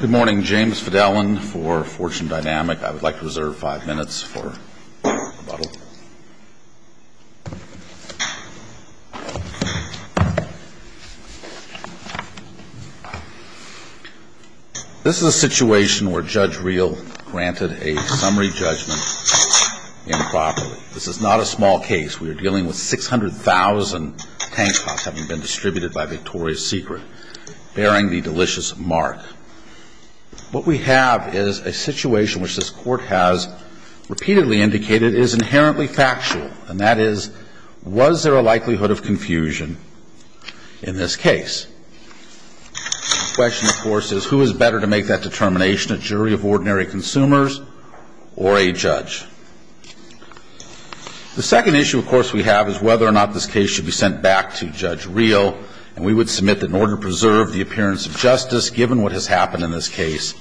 Good morning. James Fidellin for Fortune Dynamic. I would like to reserve five minutes for rebuttal. This is a situation where Judge Reel granted a summary judgment improperly. This is not a small case. We are dealing with 600,000 tank tops having been distributed by Victoria's Secret, bearing the delicious mark. What we have is a situation which this Court has repeatedly indicated is inherently factual, and that is, was there a likelihood of confusion in this case? The question, of course, is who is better to make that determination, a jury of ordinary consumers or a judge? The second issue, of course, we have is whether or not this case should be sent back to Judge Reel, and we would submit that in order to preserve the appearance of justice, given what has happened in this case,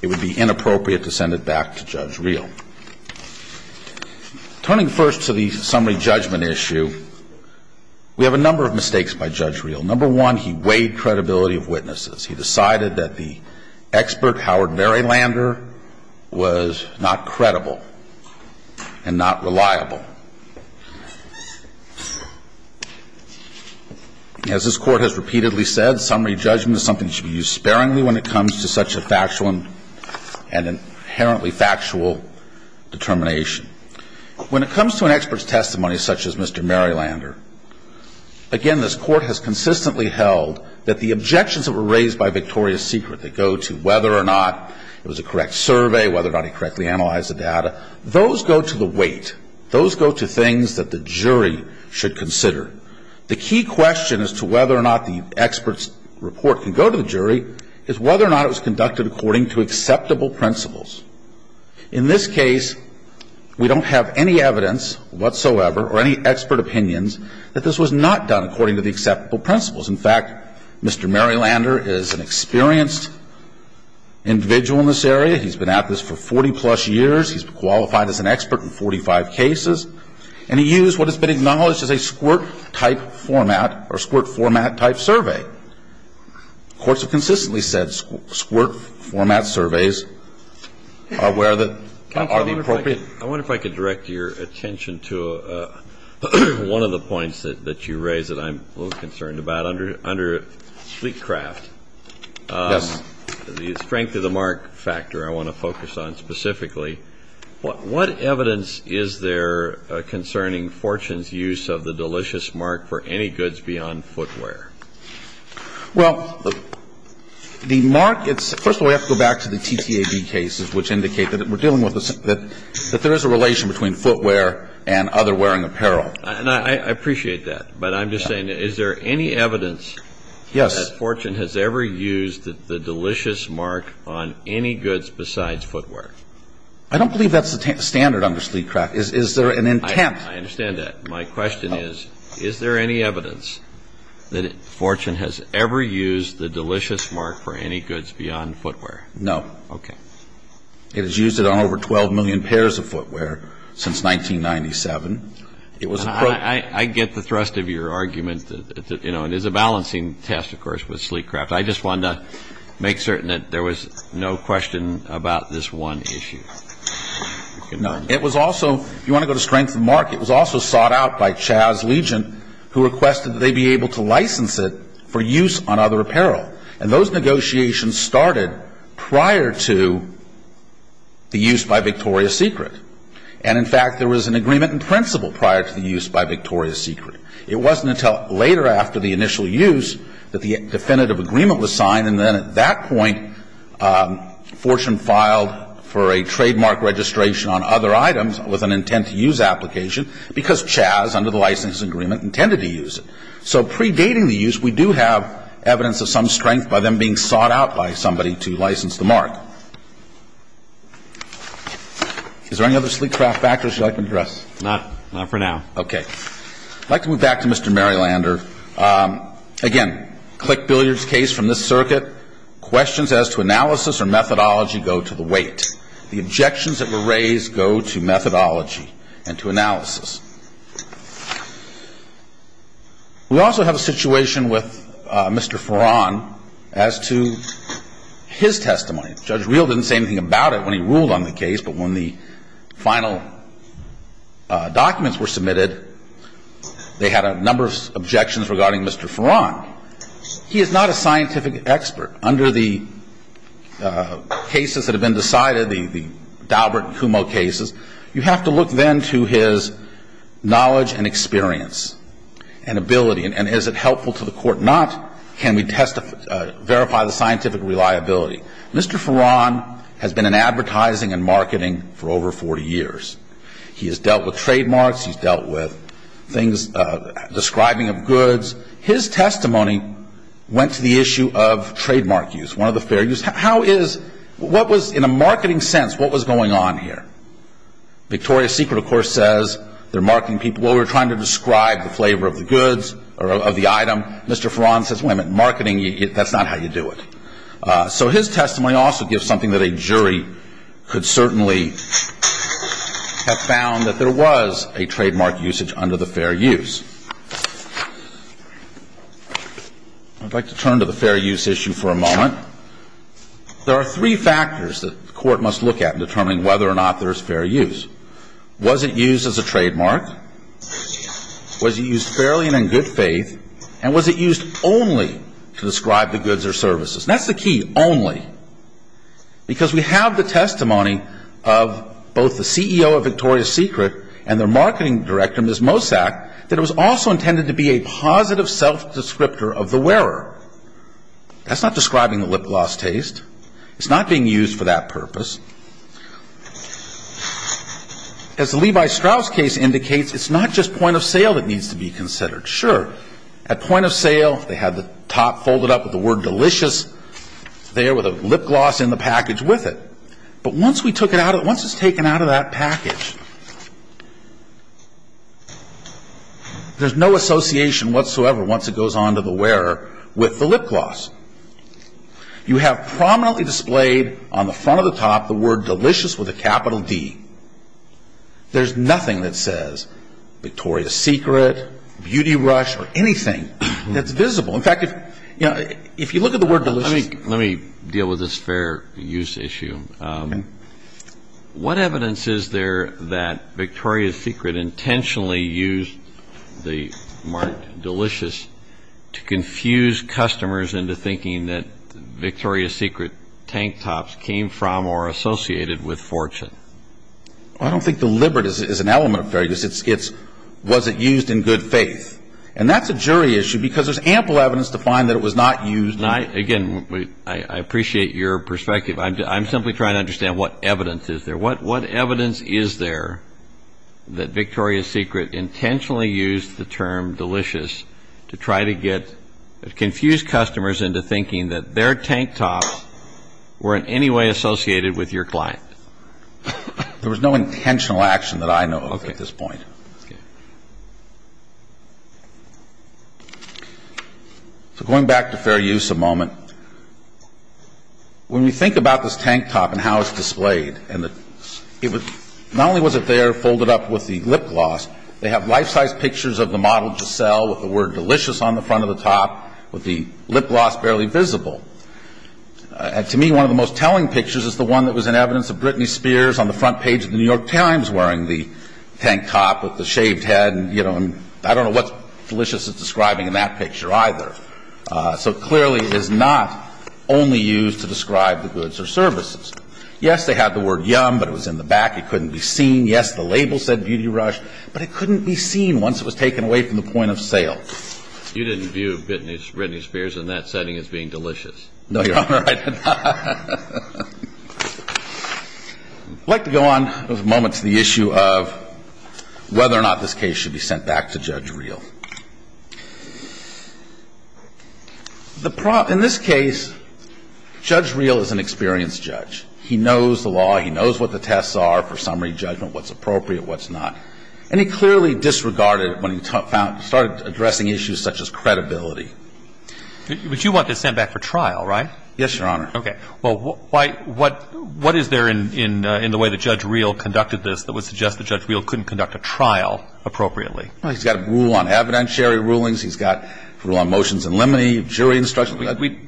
it would be inappropriate to send it back to Judge Reel. Turning first to the summary judgment issue, we have a number of mistakes by Judge Reel. Number one, he weighed credibility of witnesses. He decided that the expert, Howard Merrylander, was not credible and not reliable. As this Court has repeatedly said, summary judgment is something that should be used sparingly when it comes to such a factual and an inherently factual determination. When it comes to an expert's testimony such as Mr. Merrylander, again, this Court has consistently held that the objections that were raised by Victoria's Secret that go to whether or not it was a correct survey, whether or not he correctly analyzed the data, those go to the weight. Those go to things that the jury should consider. The key question as to whether or not the expert's report can go to the jury is whether or not it was conducted according to acceptable principles. In this case, we don't have any evidence whatsoever or any expert opinions that this was not done according to the acceptable principles. In fact, Mr. Merrylander is an experienced individual in this area. He's been at this for 40-plus years. He's qualified as an expert in 45 cases. And he used what has been acknowledged as a squirt-type format or squirt-format-type survey. Courts have consistently said squirt-format surveys are where the – are the appropriate. I wonder if I could direct your attention to one of the points that you raised that I'm a little concerned about. Under Fleetcraft. Yes. The strength of the mark factor I want to focus on specifically. What evidence is there concerning Fortune's use of the delicious mark for any goods beyond footwear? Well, the mark – first of all, we have to go back to the TTAB cases which indicate that we're dealing with – that there is a relation between footwear and other wearing apparel. I appreciate that. But I'm just saying, is there any evidence that Fortune has ever used the delicious mark on any goods besides footwear? I don't believe that's the standard under Fleetcraft. Is there an intent? I understand that. My question is, is there any evidence that Fortune has ever used the delicious mark for any goods beyond footwear? No. Okay. It has used it on over 12 million pairs of footwear since 1997. I get the thrust of your argument. You know, it is a balancing test, of course, with Fleetcraft. I just wanted to make certain that there was no question about this one issue. No. It was also – if you want to go to strength of the mark, it was also sought out by CHAZ Legion who requested that they be able to license it for use on other apparel. And those negotiations started prior to the use by Victoria's Secret. And, in fact, there was an agreement in principle prior to the use by Victoria's Secret. It wasn't until later after the initial use that the definitive agreement was signed, and then at that point Fortune filed for a trademark registration on other items with an intent to use application because CHAZ, under the license agreement, intended to use it. So predating the use, we do have evidence of some strength by them being sought out by somebody to license the mark. Is there any other Fleetcraft factors you'd like to address? Not for now. Okay. I'd like to move back to Mr. Marylander. Again, click billiards case from this circuit, questions as to analysis or methodology go to the weight. The objections that were raised go to methodology and to analysis. We also have a situation with Mr. Farran as to his testimony. Judge Reel didn't say anything about it when he ruled on the case, but when the final documents were submitted, they had a number of objections regarding Mr. Farran. He is not a scientific expert. Under the cases that have been decided, the Daubert and Kumo cases, you have to look then to his knowledge and experience and ability. And is it helpful to the Court? Not. Can we verify the scientific reliability? Mr. Farran has been in advertising and marketing for over 40 years. He has dealt with trademarks. He's dealt with things, describing of goods. His testimony went to the issue of trademark use, one of the fair use. How is, what was, in a marketing sense, what was going on here? Victoria's Secret, of course, says they're marketing people. Well, we were trying to describe the flavor of the goods or of the item. Mr. Farran says, wait a minute, marketing, that's not how you do it. So his testimony also gives something that a jury could certainly have found, that there was a trademark usage under the fair use. I'd like to turn to the fair use issue for a moment. There are three factors that the Court must look at in determining whether or not there is fair use. Was it used as a trademark? Was it used fairly and in good faith? And was it used only to describe the goods or services? That's the key, only. Because we have the testimony of both the CEO of Victoria's Secret and their marketing director, Ms. Mosack, that it was also intended to be a positive self-descriptor of the wearer. That's not describing the lip gloss taste. It's not being used for that purpose. As the Levi Strauss case indicates, it's not just point of sale that needs to be considered. Sure, at point of sale, they have the top folded up with the word Delicious there with a lip gloss in the package with it. But once we took it out, once it's taken out of that package, there's no association whatsoever once it goes on to the wearer with the lip gloss. You have prominently displayed on the front of the top the word Delicious with a capital D. There's nothing that says Victoria's Secret, Beauty Rush, or anything that's visible. In fact, if you look at the word Delicious. Let me deal with this fair use issue. What evidence is there that Victoria's Secret intentionally used the mark Delicious to confuse customers into thinking that Victoria's Secret tank tops came from or associated with fortune? I don't think the liberty is an element of fair use. It's was it used in good faith. And that's a jury issue because there's ample evidence to find that it was not used. Again, I appreciate your perspective. I'm simply trying to understand what evidence is there. that Victoria's Secret intentionally used the term Delicious to try to get confused customers into thinking that their tank tops were in any way associated with your client? There was no intentional action that I know of at this point. Okay. So going back to fair use a moment, when you think about this tank top and how it's displayed, not only was it there folded up with the lip gloss, they have life-size pictures of the model to sell with the word Delicious on the front of the top with the lip gloss barely visible. And to me, one of the most telling pictures is the one that was in evidence of Britney Spears on the front page of the New York Times wearing the tank top with the shaved head. I don't know what Delicious is describing in that picture either. So clearly it is not only used to describe the goods or services. Yes, they had the word Yum, but it was in the back. It couldn't be seen. Yes, the label said Beauty Rush, but it couldn't be seen once it was taken away from the point of sale. You didn't view Britney Spears in that setting as being delicious? No, Your Honor, I did not. I'd like to go on for a moment to the issue of whether or not this case should be sent back to Judge Reel. In this case, Judge Reel is an experienced judge. He knows the law. He knows what the tests are for summary judgment, what's appropriate, what's not. And he clearly disregarded it when he found – started addressing issues such as credibility. But you want this sent back for trial, right? Yes, Your Honor. Okay. Well, why – what is there in the way that Judge Reel conducted this that would suggest that Judge Reel couldn't conduct a trial appropriately? Well, he's got a rule on evidentiary rulings. He's got a rule on motions in limine, jury instructions.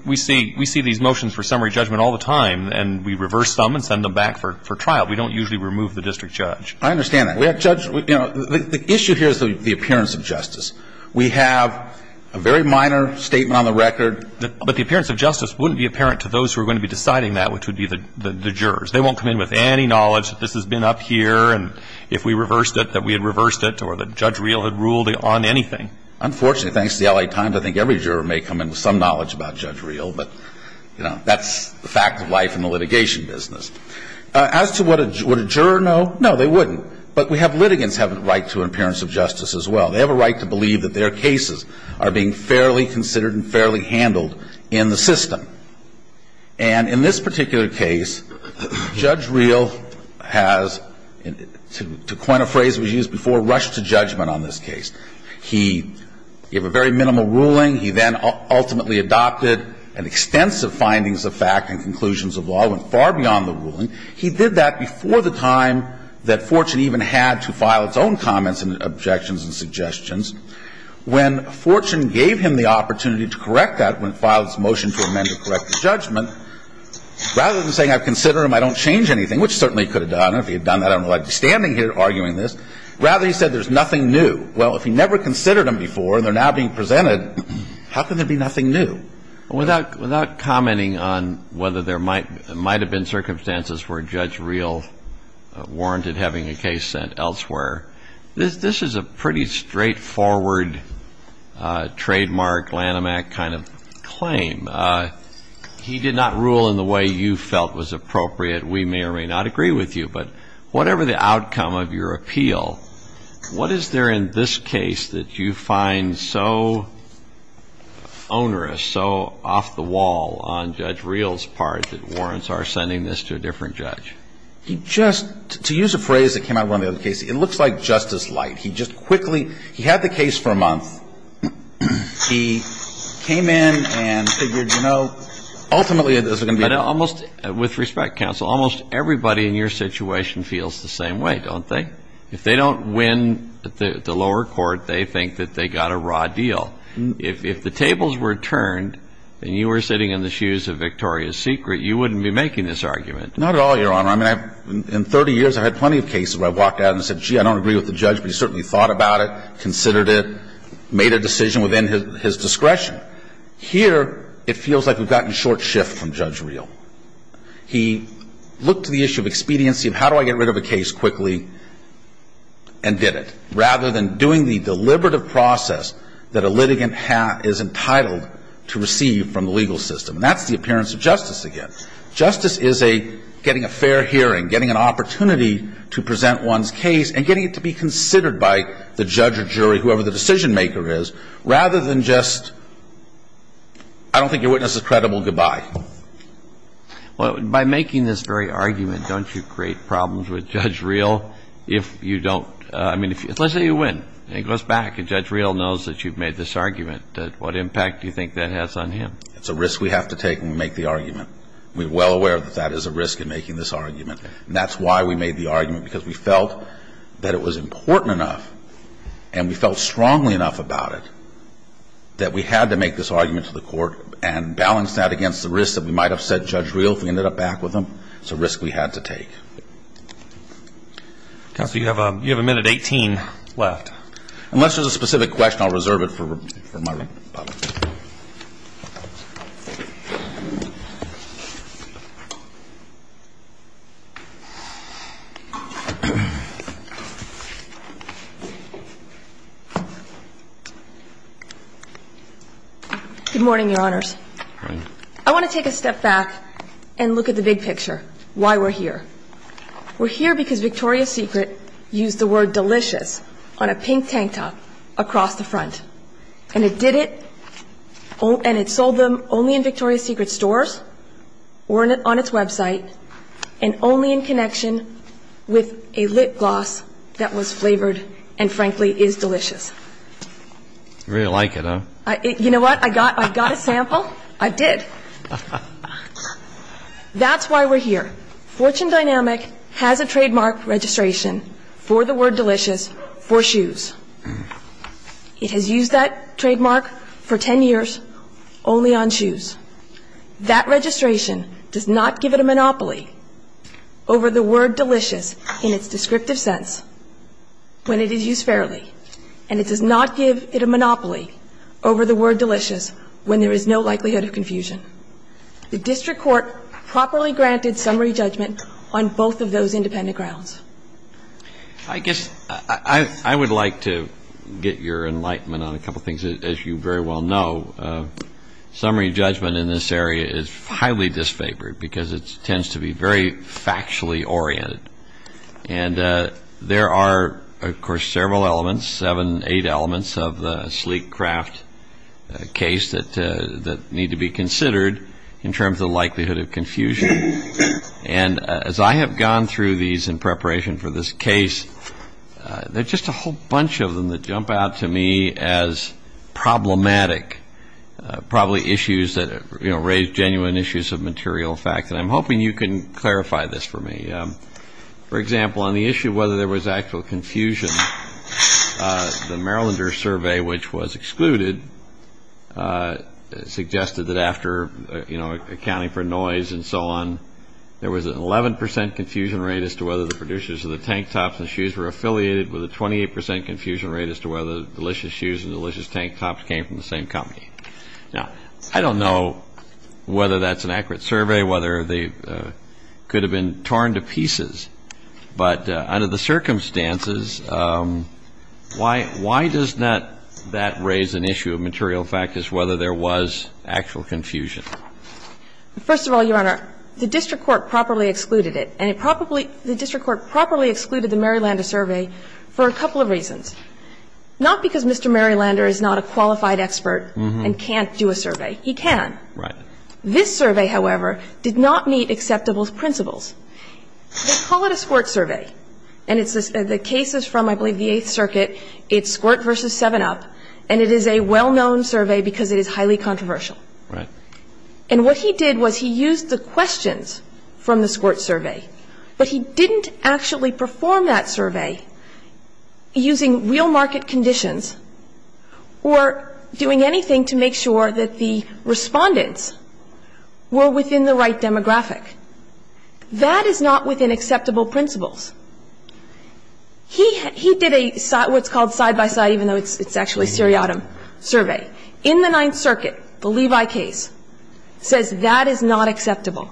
We see – we see these motions for summary judgment all the time, and we reverse some and send them back for trial. We don't usually remove the district judge. I understand that. We have judge – you know, the issue here is the appearance of justice. We have a very minor statement on the record. But the appearance of justice wouldn't be apparent to those who are going to be deciding that, which would be the jurors. They won't come in with any knowledge that this has been up here, and if we reversed it, that we had reversed it, or that Judge Reel had ruled on anything. Unfortunately, thanks to the L.A. Times, I think every juror may come in with some knowledge about Judge Reel. But, you know, that's the fact of life in the litigation business. As to what a – would a juror know? No, they wouldn't. But we have – litigants have a right to an appearance of justice as well. They have a right to believe that their cases are being fairly considered and fairly handled in the system. And in this particular case, Judge Reel has, to coin a phrase we used before, rushed to judgment on this case. He gave a very minimal ruling. He then ultimately adopted an extensive findings of fact and conclusions of law, went far beyond the ruling. He did that before the time that Fortune even had to file its own comments and objections and suggestions. When Fortune gave him the opportunity to correct that, when it filed its motion to amend or correct the judgment, rather than saying, I've considered them, I don't change anything, which certainly he could have done. If he had done that, I don't know why he's standing here arguing this. Rather, he said, there's nothing new. Well, if he never considered them before and they're now being presented, how can there be nothing new? Without commenting on whether there might have been circumstances where Judge Reel warranted having a case sent elsewhere, this is a pretty straightforward trademark Lanham Act kind of claim. He did not rule in the way you felt was appropriate. We may or may not agree with you, but whatever the outcome of your appeal, what is there in this case that you find so onerous, so off the wall on Judge Reel's part that warrants are sending this to a different judge? He just, to use a phrase that came out of one of the other cases, it looks like Justice Light. He just quickly, he had the case for a month. He came in and figured, you know, ultimately it was going to be. Almost, with respect, counsel, almost everybody in your situation feels the same way, don't they? If they don't win the lower court, they think that they got a raw deal. If the tables were turned and you were sitting in the shoes of Victoria's Secret, you wouldn't be making this argument. Not at all, Your Honor. I mean, in 30 years, I've had plenty of cases where I've walked out and said, gee, I don't agree with the judge, but he certainly thought about it, considered it, made a decision within his discretion. Here, it feels like we've gotten short shift from Judge Reel. He looked to the issue of expediency of how do I get rid of a case quickly and did it, rather than doing the deliberative process that a litigant is entitled to receive from the legal system. And that's the appearance of justice again. Justice is a getting a fair hearing, getting an opportunity to present one's case and getting it to be considered by the judge or jury, whoever the decision-maker is, rather than just, I don't think your witness is credible, goodbye. Well, by making this very argument, don't you create problems with Judge Reel? I mean, let's say you win and he goes back and Judge Reel knows that you've made this argument. What impact do you think that has on him? It's a risk we have to take when we make the argument. We're well aware that that is a risk in making this argument. And that's why we made the argument, because we felt that it was important enough and we felt strongly enough about it that we had to make this argument to the court and balance that against the risk that we might upset Judge Reel if we ended up back with him. It's a risk we had to take. Counsel, you have a minute 18 left. Unless there's a specific question, I'll reserve it for my rebuttal. Good morning, Your Honors. Good morning. I want to take a step back and look at the big picture, why we're here. We're here because Victoria's Secret used the word delicious on a pink tank top across the front. And it did it, and it sold them only in Victoria's Secret stores or on its website and only in connection with a lip gloss that was flavored and, frankly, is delicious. You really like it, huh? You know what? I got a sample. I did. That's why we're here. Fortune Dynamic has a trademark registration for the word delicious for shoes. It has used that trademark for 10 years only on shoes. That registration does not give it a monopoly over the word delicious in its descriptive sense when it is used fairly, and it does not give it a monopoly over the word delicious when there is no likelihood of confusion. The district court properly granted summary judgment on both of those independent grounds. I guess I would like to get your enlightenment on a couple things. As you very well know, summary judgment in this area is highly disfavored because it tends to be very factually oriented. And there are, of course, several elements, seven, eight elements of the sleek craft case that need to be considered in terms of the likelihood of confusion. And as I have gone through these in preparation for this case, there are just a whole bunch of them that jump out to me as problematic, probably issues that raise genuine issues of material fact. And I'm hoping you can clarify this for me. For example, on the issue of whether there was actual confusion, the Marylander survey, which was excluded, suggested that after accounting for noise and so on, there was an 11 percent confusion rate as to whether the producers of the tank tops and shoes were affiliated with a 28 percent confusion rate as to whether delicious shoes and delicious tank tops came from the same company. Now, I don't know whether that's an accurate survey, whether they could have been torn to pieces, but under the circumstances, why does not that raise an issue of material fact as whether there was actual confusion? First of all, Your Honor, the district court properly excluded it, and it probably the district court properly excluded the Marylander survey for a couple of reasons. Not because Mr. Marylander is not a qualified expert and can't do a survey. He can. This survey, however, did not meet acceptable principles. They call it a squirt survey, and the case is from, I believe, the Eighth Circuit. It's squirt versus 7-up, and it is a well-known survey because it is highly controversial. And what he did was he used the questions from the squirt survey, but he didn't actually perform that survey using real market conditions or doing anything to make sure that the respondents were within the right demographic. That is not within acceptable principles. He did a what's called side-by-side, even though it's actually a seriatim survey. In the Ninth Circuit, the Levi case says that is not acceptable.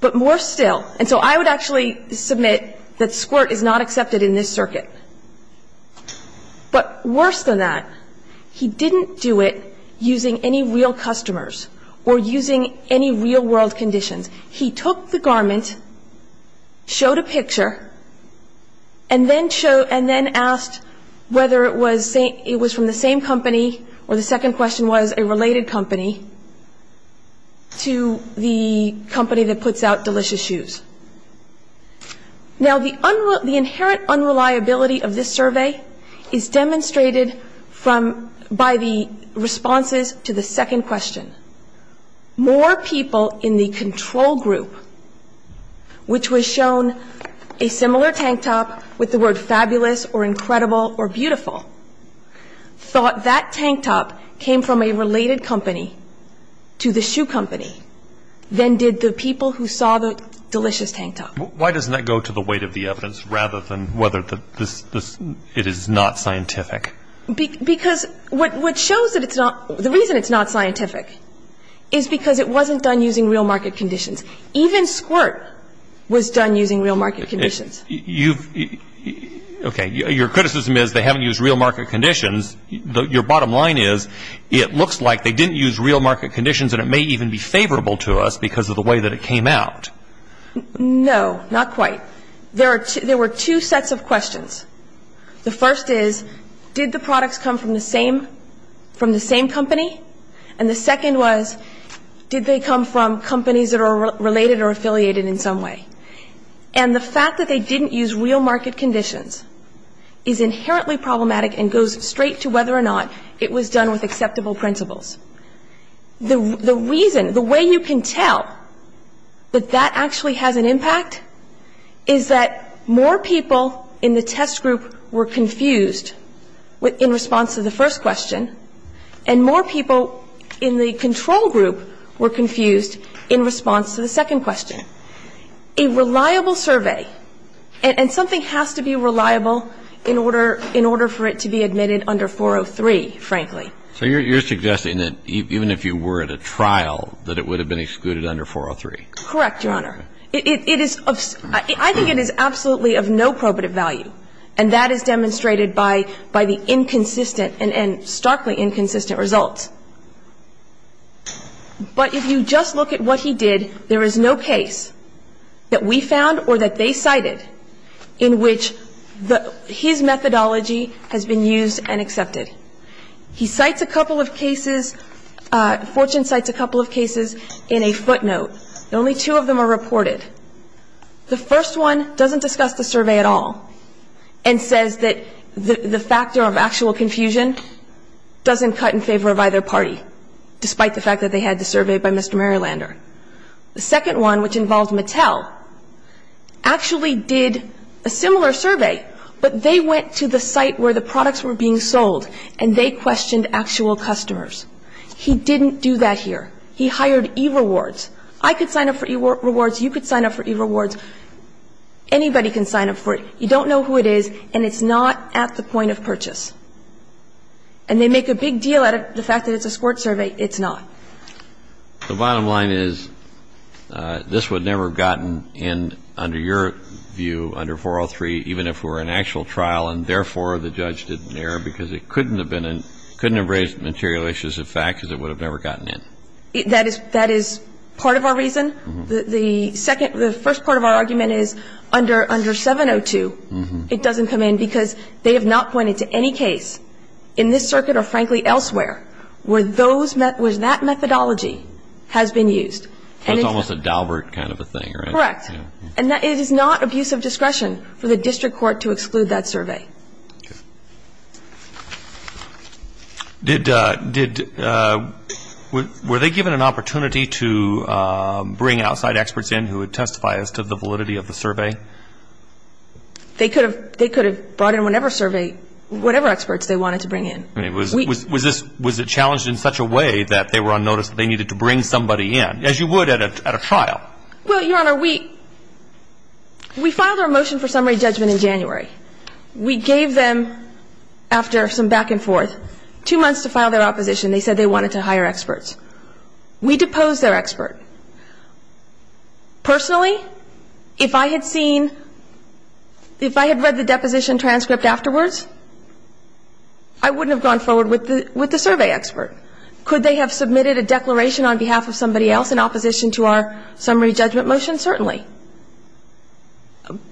But more still, and so I would actually submit that squirt is not accepted in this circuit. But worse than that, he didn't do it using any real customers or using any real-world conditions. He took the garment, showed a picture, and then asked whether it was from the same company or the second question was a related company to the company that puts out delicious shoes. Now, the inherent unreliability of this survey is demonstrated by the responses to the second question. More people in the control group, which was shown a similar tank top with the word came from a related company to the shoe company than did the people who saw the delicious tank top. Why doesn't that go to the weight of the evidence rather than whether it is not scientific? Because what shows that it's not, the reason it's not scientific is because it wasn't done using real market conditions. Even squirt was done using real market conditions. Okay. Your criticism is they haven't used real market conditions. Your bottom line is it looks like they didn't use real market conditions and it may even be favorable to us because of the way that it came out. No, not quite. There were two sets of questions. The first is did the products come from the same company? And the second was did they come from companies that are related or affiliated in some way? And the fact that they didn't use real market conditions is inherently problematic and goes straight to whether or not it was done with acceptable principles. The reason, the way you can tell that that actually has an impact is that more people in the test group were confused in response to the first question and more people in the control group were confused in response to the second question. A reliable survey, and something has to be reliable in order for it to be admitted under 403, frankly. So you're suggesting that even if you were at a trial, that it would have been excluded under 403? Correct, Your Honor. I think it is absolutely of no probative value, and that is demonstrated by the inconsistent and starkly inconsistent results. But if you just look at what he did, there is no case that we found or that they cited in which his methodology has been used and accepted. He cites a couple of cases, Fortune cites a couple of cases in a footnote, and only two of them are reported. The first one doesn't discuss the survey at all and says that the factor of actual confusion doesn't cut in favor of either party, despite the fact that they had the survey by Mr. Marylander. The second one, which involves Mattel, actually did a similar survey, but they went to the site where the products were being sold and they questioned actual customers. He didn't do that here. He hired E-Rewards. I could sign up for E-Rewards, you could sign up for E-Rewards, anybody can sign up for it. You don't know who it is, and it's not at the point of purchase. And they make a big deal out of the fact that it's a squirt survey. It's not. The bottom line is this would never have gotten in under your view under 403, even if it were an actual trial, and therefore the judge did an error because it couldn't have been in, couldn't have raised material issues of fact because it would have never gotten in. That is part of our reason. The second, the first part of our argument is under 702, it doesn't come in because they have not pointed to any case in this circuit or frankly elsewhere where those, where that methodology has been used. That's almost a Daubert kind of a thing, right? Correct. And it is not abuse of discretion for the district court to exclude that survey. Okay. Did, were they given an opportunity to bring outside experts in who would testify as to the validity of the survey? They could have brought in whatever survey, whatever experts they wanted to bring in. Was this, was it challenged in such a way that they were on notice that they needed to bring somebody in, as you would at a trial? Well, Your Honor, we, we filed our motion for summary judgment in January. We gave them, after some back and forth, two months to file their opposition. They said they wanted to hire experts. We deposed their expert. Personally, if I had seen, if I had read the deposition transcript afterwards, I wouldn't have gone forward with the, with the survey expert. Could they have submitted a declaration on behalf of somebody else in opposition to our summary judgment motion? Certainly.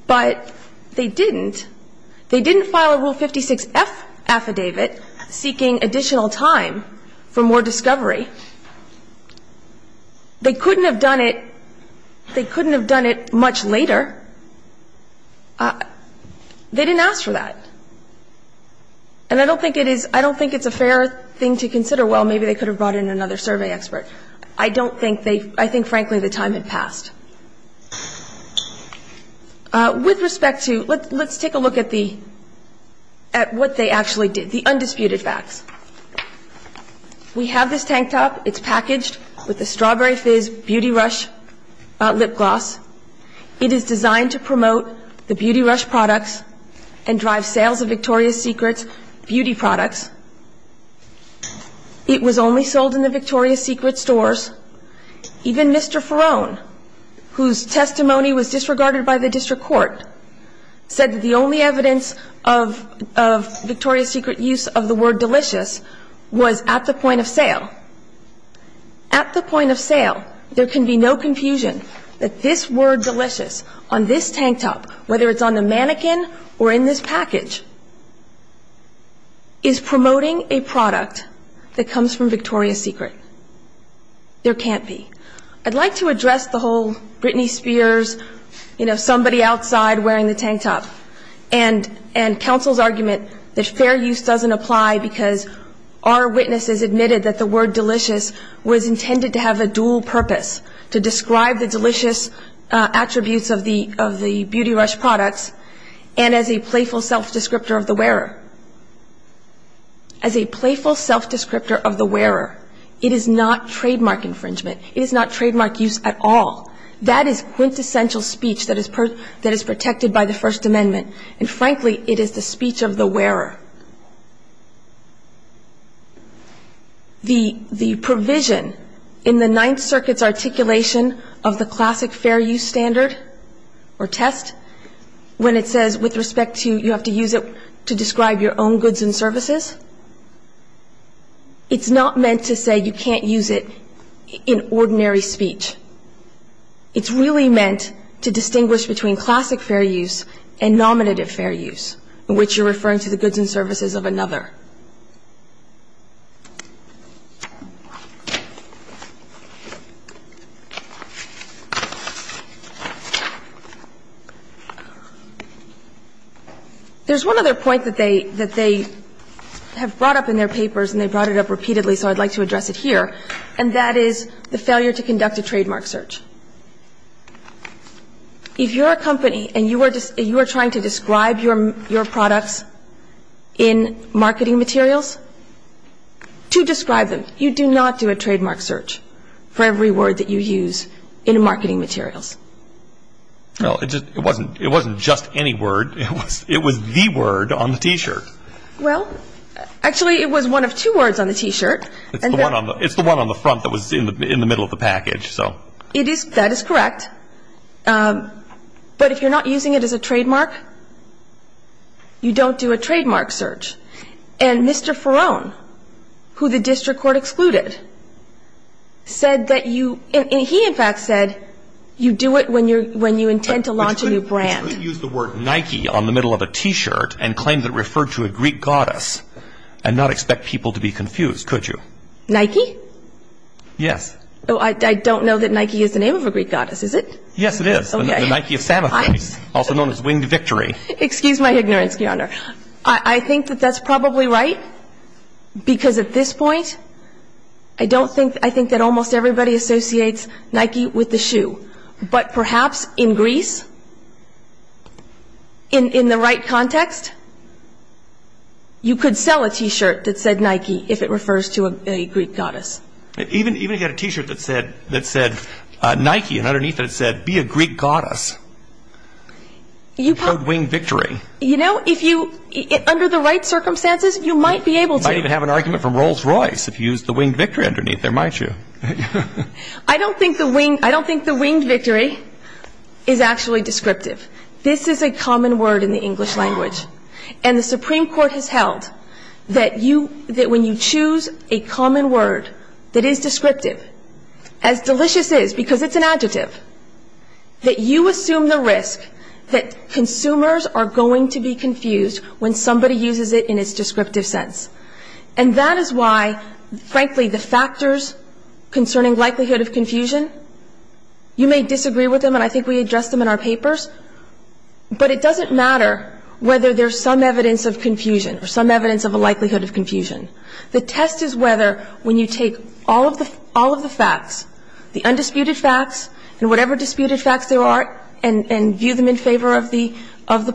But they didn't. They didn't file a Rule 56F affidavit seeking additional time for more discovery. They couldn't have done it, they couldn't have done it much later. They didn't ask for that. And I don't think it is, I don't think it's a fair thing to consider, well, maybe they could have brought in another survey expert. I don't think they, I think, frankly, the time had passed. With respect to, let's take a look at the, at what they actually did, the undisputed facts. We have this tank top. It's packaged with a Strawberry Fizz Beauty Rush lip gloss. It is designed to promote the Beauty Rush products and drive sales of Victoria's Secret's beauty products. It was only sold in the Victoria's Secret stores. Even Mr. Ferone, whose testimony was disregarded by the district court, said that the only evidence of, of Victoria's Secret use of the word At the point of sale, there can be no confusion that this word delicious on this tank top, whether it's on the mannequin or in this package, is promoting a product that comes from Victoria's Secret. There can't be. I'd like to address the whole Britney Spears, you know, somebody outside wearing the tank top, and counsel's argument that fair use doesn't apply because our witnesses admitted that the word delicious was intended to have a dual purpose, to describe the delicious attributes of the Beauty Rush products and as a playful self-descriptor of the wearer. As a playful self-descriptor of the wearer, it is not trademark infringement. It is not trademark use at all. That is quintessential speech that is protected by the First Amendment, and frankly, it is the speech of the wearer. The provision in the Ninth Circuit's articulation of the classic fair use standard or test, when it says with respect to you have to use it to describe your own goods and services, it's not meant to say you can't use it in ordinary speech. It's really meant to distinguish between classic fair use and nominative fair use, in which you're referring to the goods and services of another. There's one other point that they have brought up in their papers, and they've brought it up repeatedly, so I'd like to address it here, and that is the failure to conduct a trademark search. If you're a company and you are trying to describe your products in marketing materials, to describe them, you do not do a trademark search for every word that you use in marketing materials. It wasn't just any word. It was the word on the T-shirt. Well, actually, it was one of two words on the T-shirt. It's the one on the front that was in the middle of the package, so. That is correct. But if you're not using it as a trademark, you don't do a trademark search. And Mr. Ferone, who the district court excluded, said that you, and he, in fact, said you do it when you intend to launch a new brand. You couldn't use the word Nike on the middle of a T-shirt and claim that it referred to a Greek goddess and not expect people to be confused, could you? Nike? Yes. Oh, I don't know that Nike is the name of a Greek goddess, is it? Yes, it is. Okay. The Nike of Samothrace, also known as Winged Victory. Excuse my ignorance, Your Honor. I think that that's probably right, because at this point, I don't think, I think that almost everybody associates Nike with the shoe. But perhaps in Greece, in the right context, you could sell a T-shirt that said Nike if it refers to a Greek goddess. Even if you had a T-shirt that said Nike, and underneath it said, be a Greek goddess, it's called Winged Victory. You know, if you, under the right circumstances, you might be able to. You might even have an argument from Rolls-Royce if you used the Winged Victory underneath there, might you? I don't think the Winged Victory is actually descriptive. This is a common word in the English language. And the Supreme Court has held that you, that when you choose a common word that is descriptive, as delicious is, because it's an adjective, that you assume the risk that consumers are going to be confused when somebody uses it in its descriptive sense. And that is why, frankly, the factors concerning likelihood of confusion, you may disagree with them, and I think we address them in our papers. But it doesn't matter whether there's some evidence of confusion or some evidence of a likelihood of confusion. The test is whether, when you take all of the facts, the undisputed facts and whatever disputed facts there are, and view them in favor of the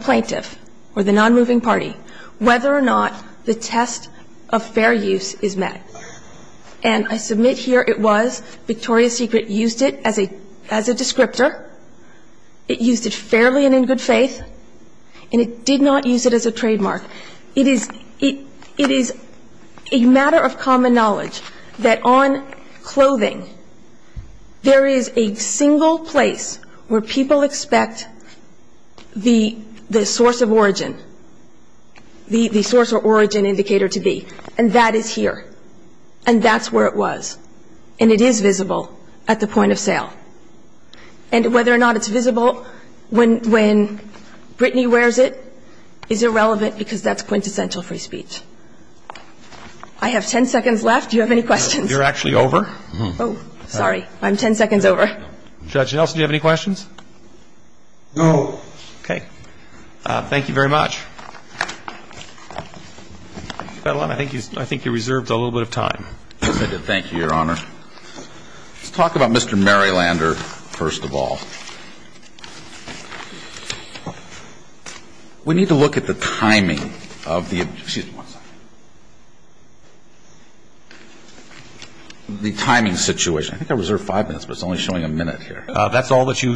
plaintiff or the nonmoving party, whether or not the test of fair use is met. And I submit here it was, Victoria's Secret used it as a descriptor, it used it fairly and in good faith, and it did not use it as a trademark. It is a matter of common knowledge that on clothing, there is a single place where people expect the source of origin, the source or origin indicator to be. And that is here, and that's where it was, and it is visible at the point of sale. And whether or not it's visible when Brittany wears it is irrelevant, because that's quintessential free speech. I have 10 seconds left. Do you have any questions? You're actually over? Oh, sorry. I'm 10 seconds over. Judge Nelson, do you have any questions? No. Okay. Thank you very much. Your Honor, I think you reserved a little bit of time. Yes, I did. Thank you, Your Honor. Let's talk about Mr. Marylander, first of all. We need to look at the timing of the, excuse me one second, the timing situation. I think I reserved five minutes, but it's only showing a minute here. That's all that you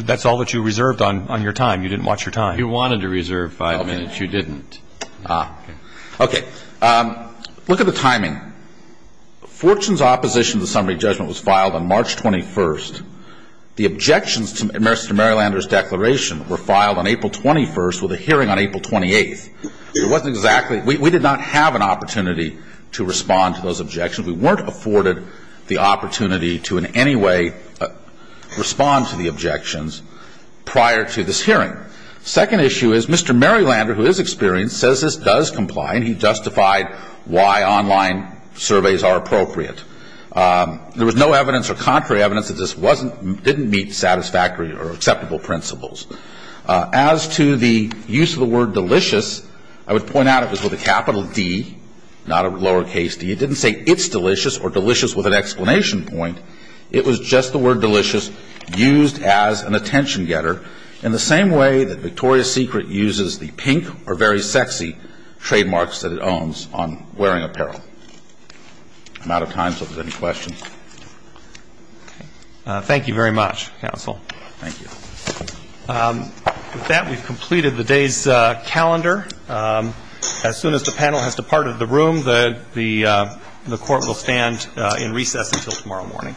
reserved on your time. You didn't watch your time. You wanted to reserve five minutes. You didn't. Okay. Look at the timing. Fortune's opposition to the summary judgment was filed on March 21st. The objections to Mr. Marylander's declaration were filed on April 21st with a hearing on April 28th. It wasn't exactly, we did not have an opportunity to respond to those objections. We weren't afforded the opportunity to in any way respond to the objections prior to this hearing. Second issue is Mr. Marylander, who is experienced, says this does comply, and he justified why online surveys are appropriate. There was no evidence or contrary evidence that this wasn't, didn't meet satisfactory or acceptable principles. As to the use of the word delicious, I would point out it was with a capital D, not a lowercase d. It didn't say it's delicious or delicious with an explanation point. It was just the word delicious used as an attention getter in the same way that Victoria's Secret uses the pink or very sexy trademarks that it owns on wearing apparel. I'm out of time, so if there's any questions. Thank you very much, counsel. Thank you. With that, we've completed the day's calendar. As soon as the panel has departed the room, the court will stand in recess until tomorrow morning. Thank you.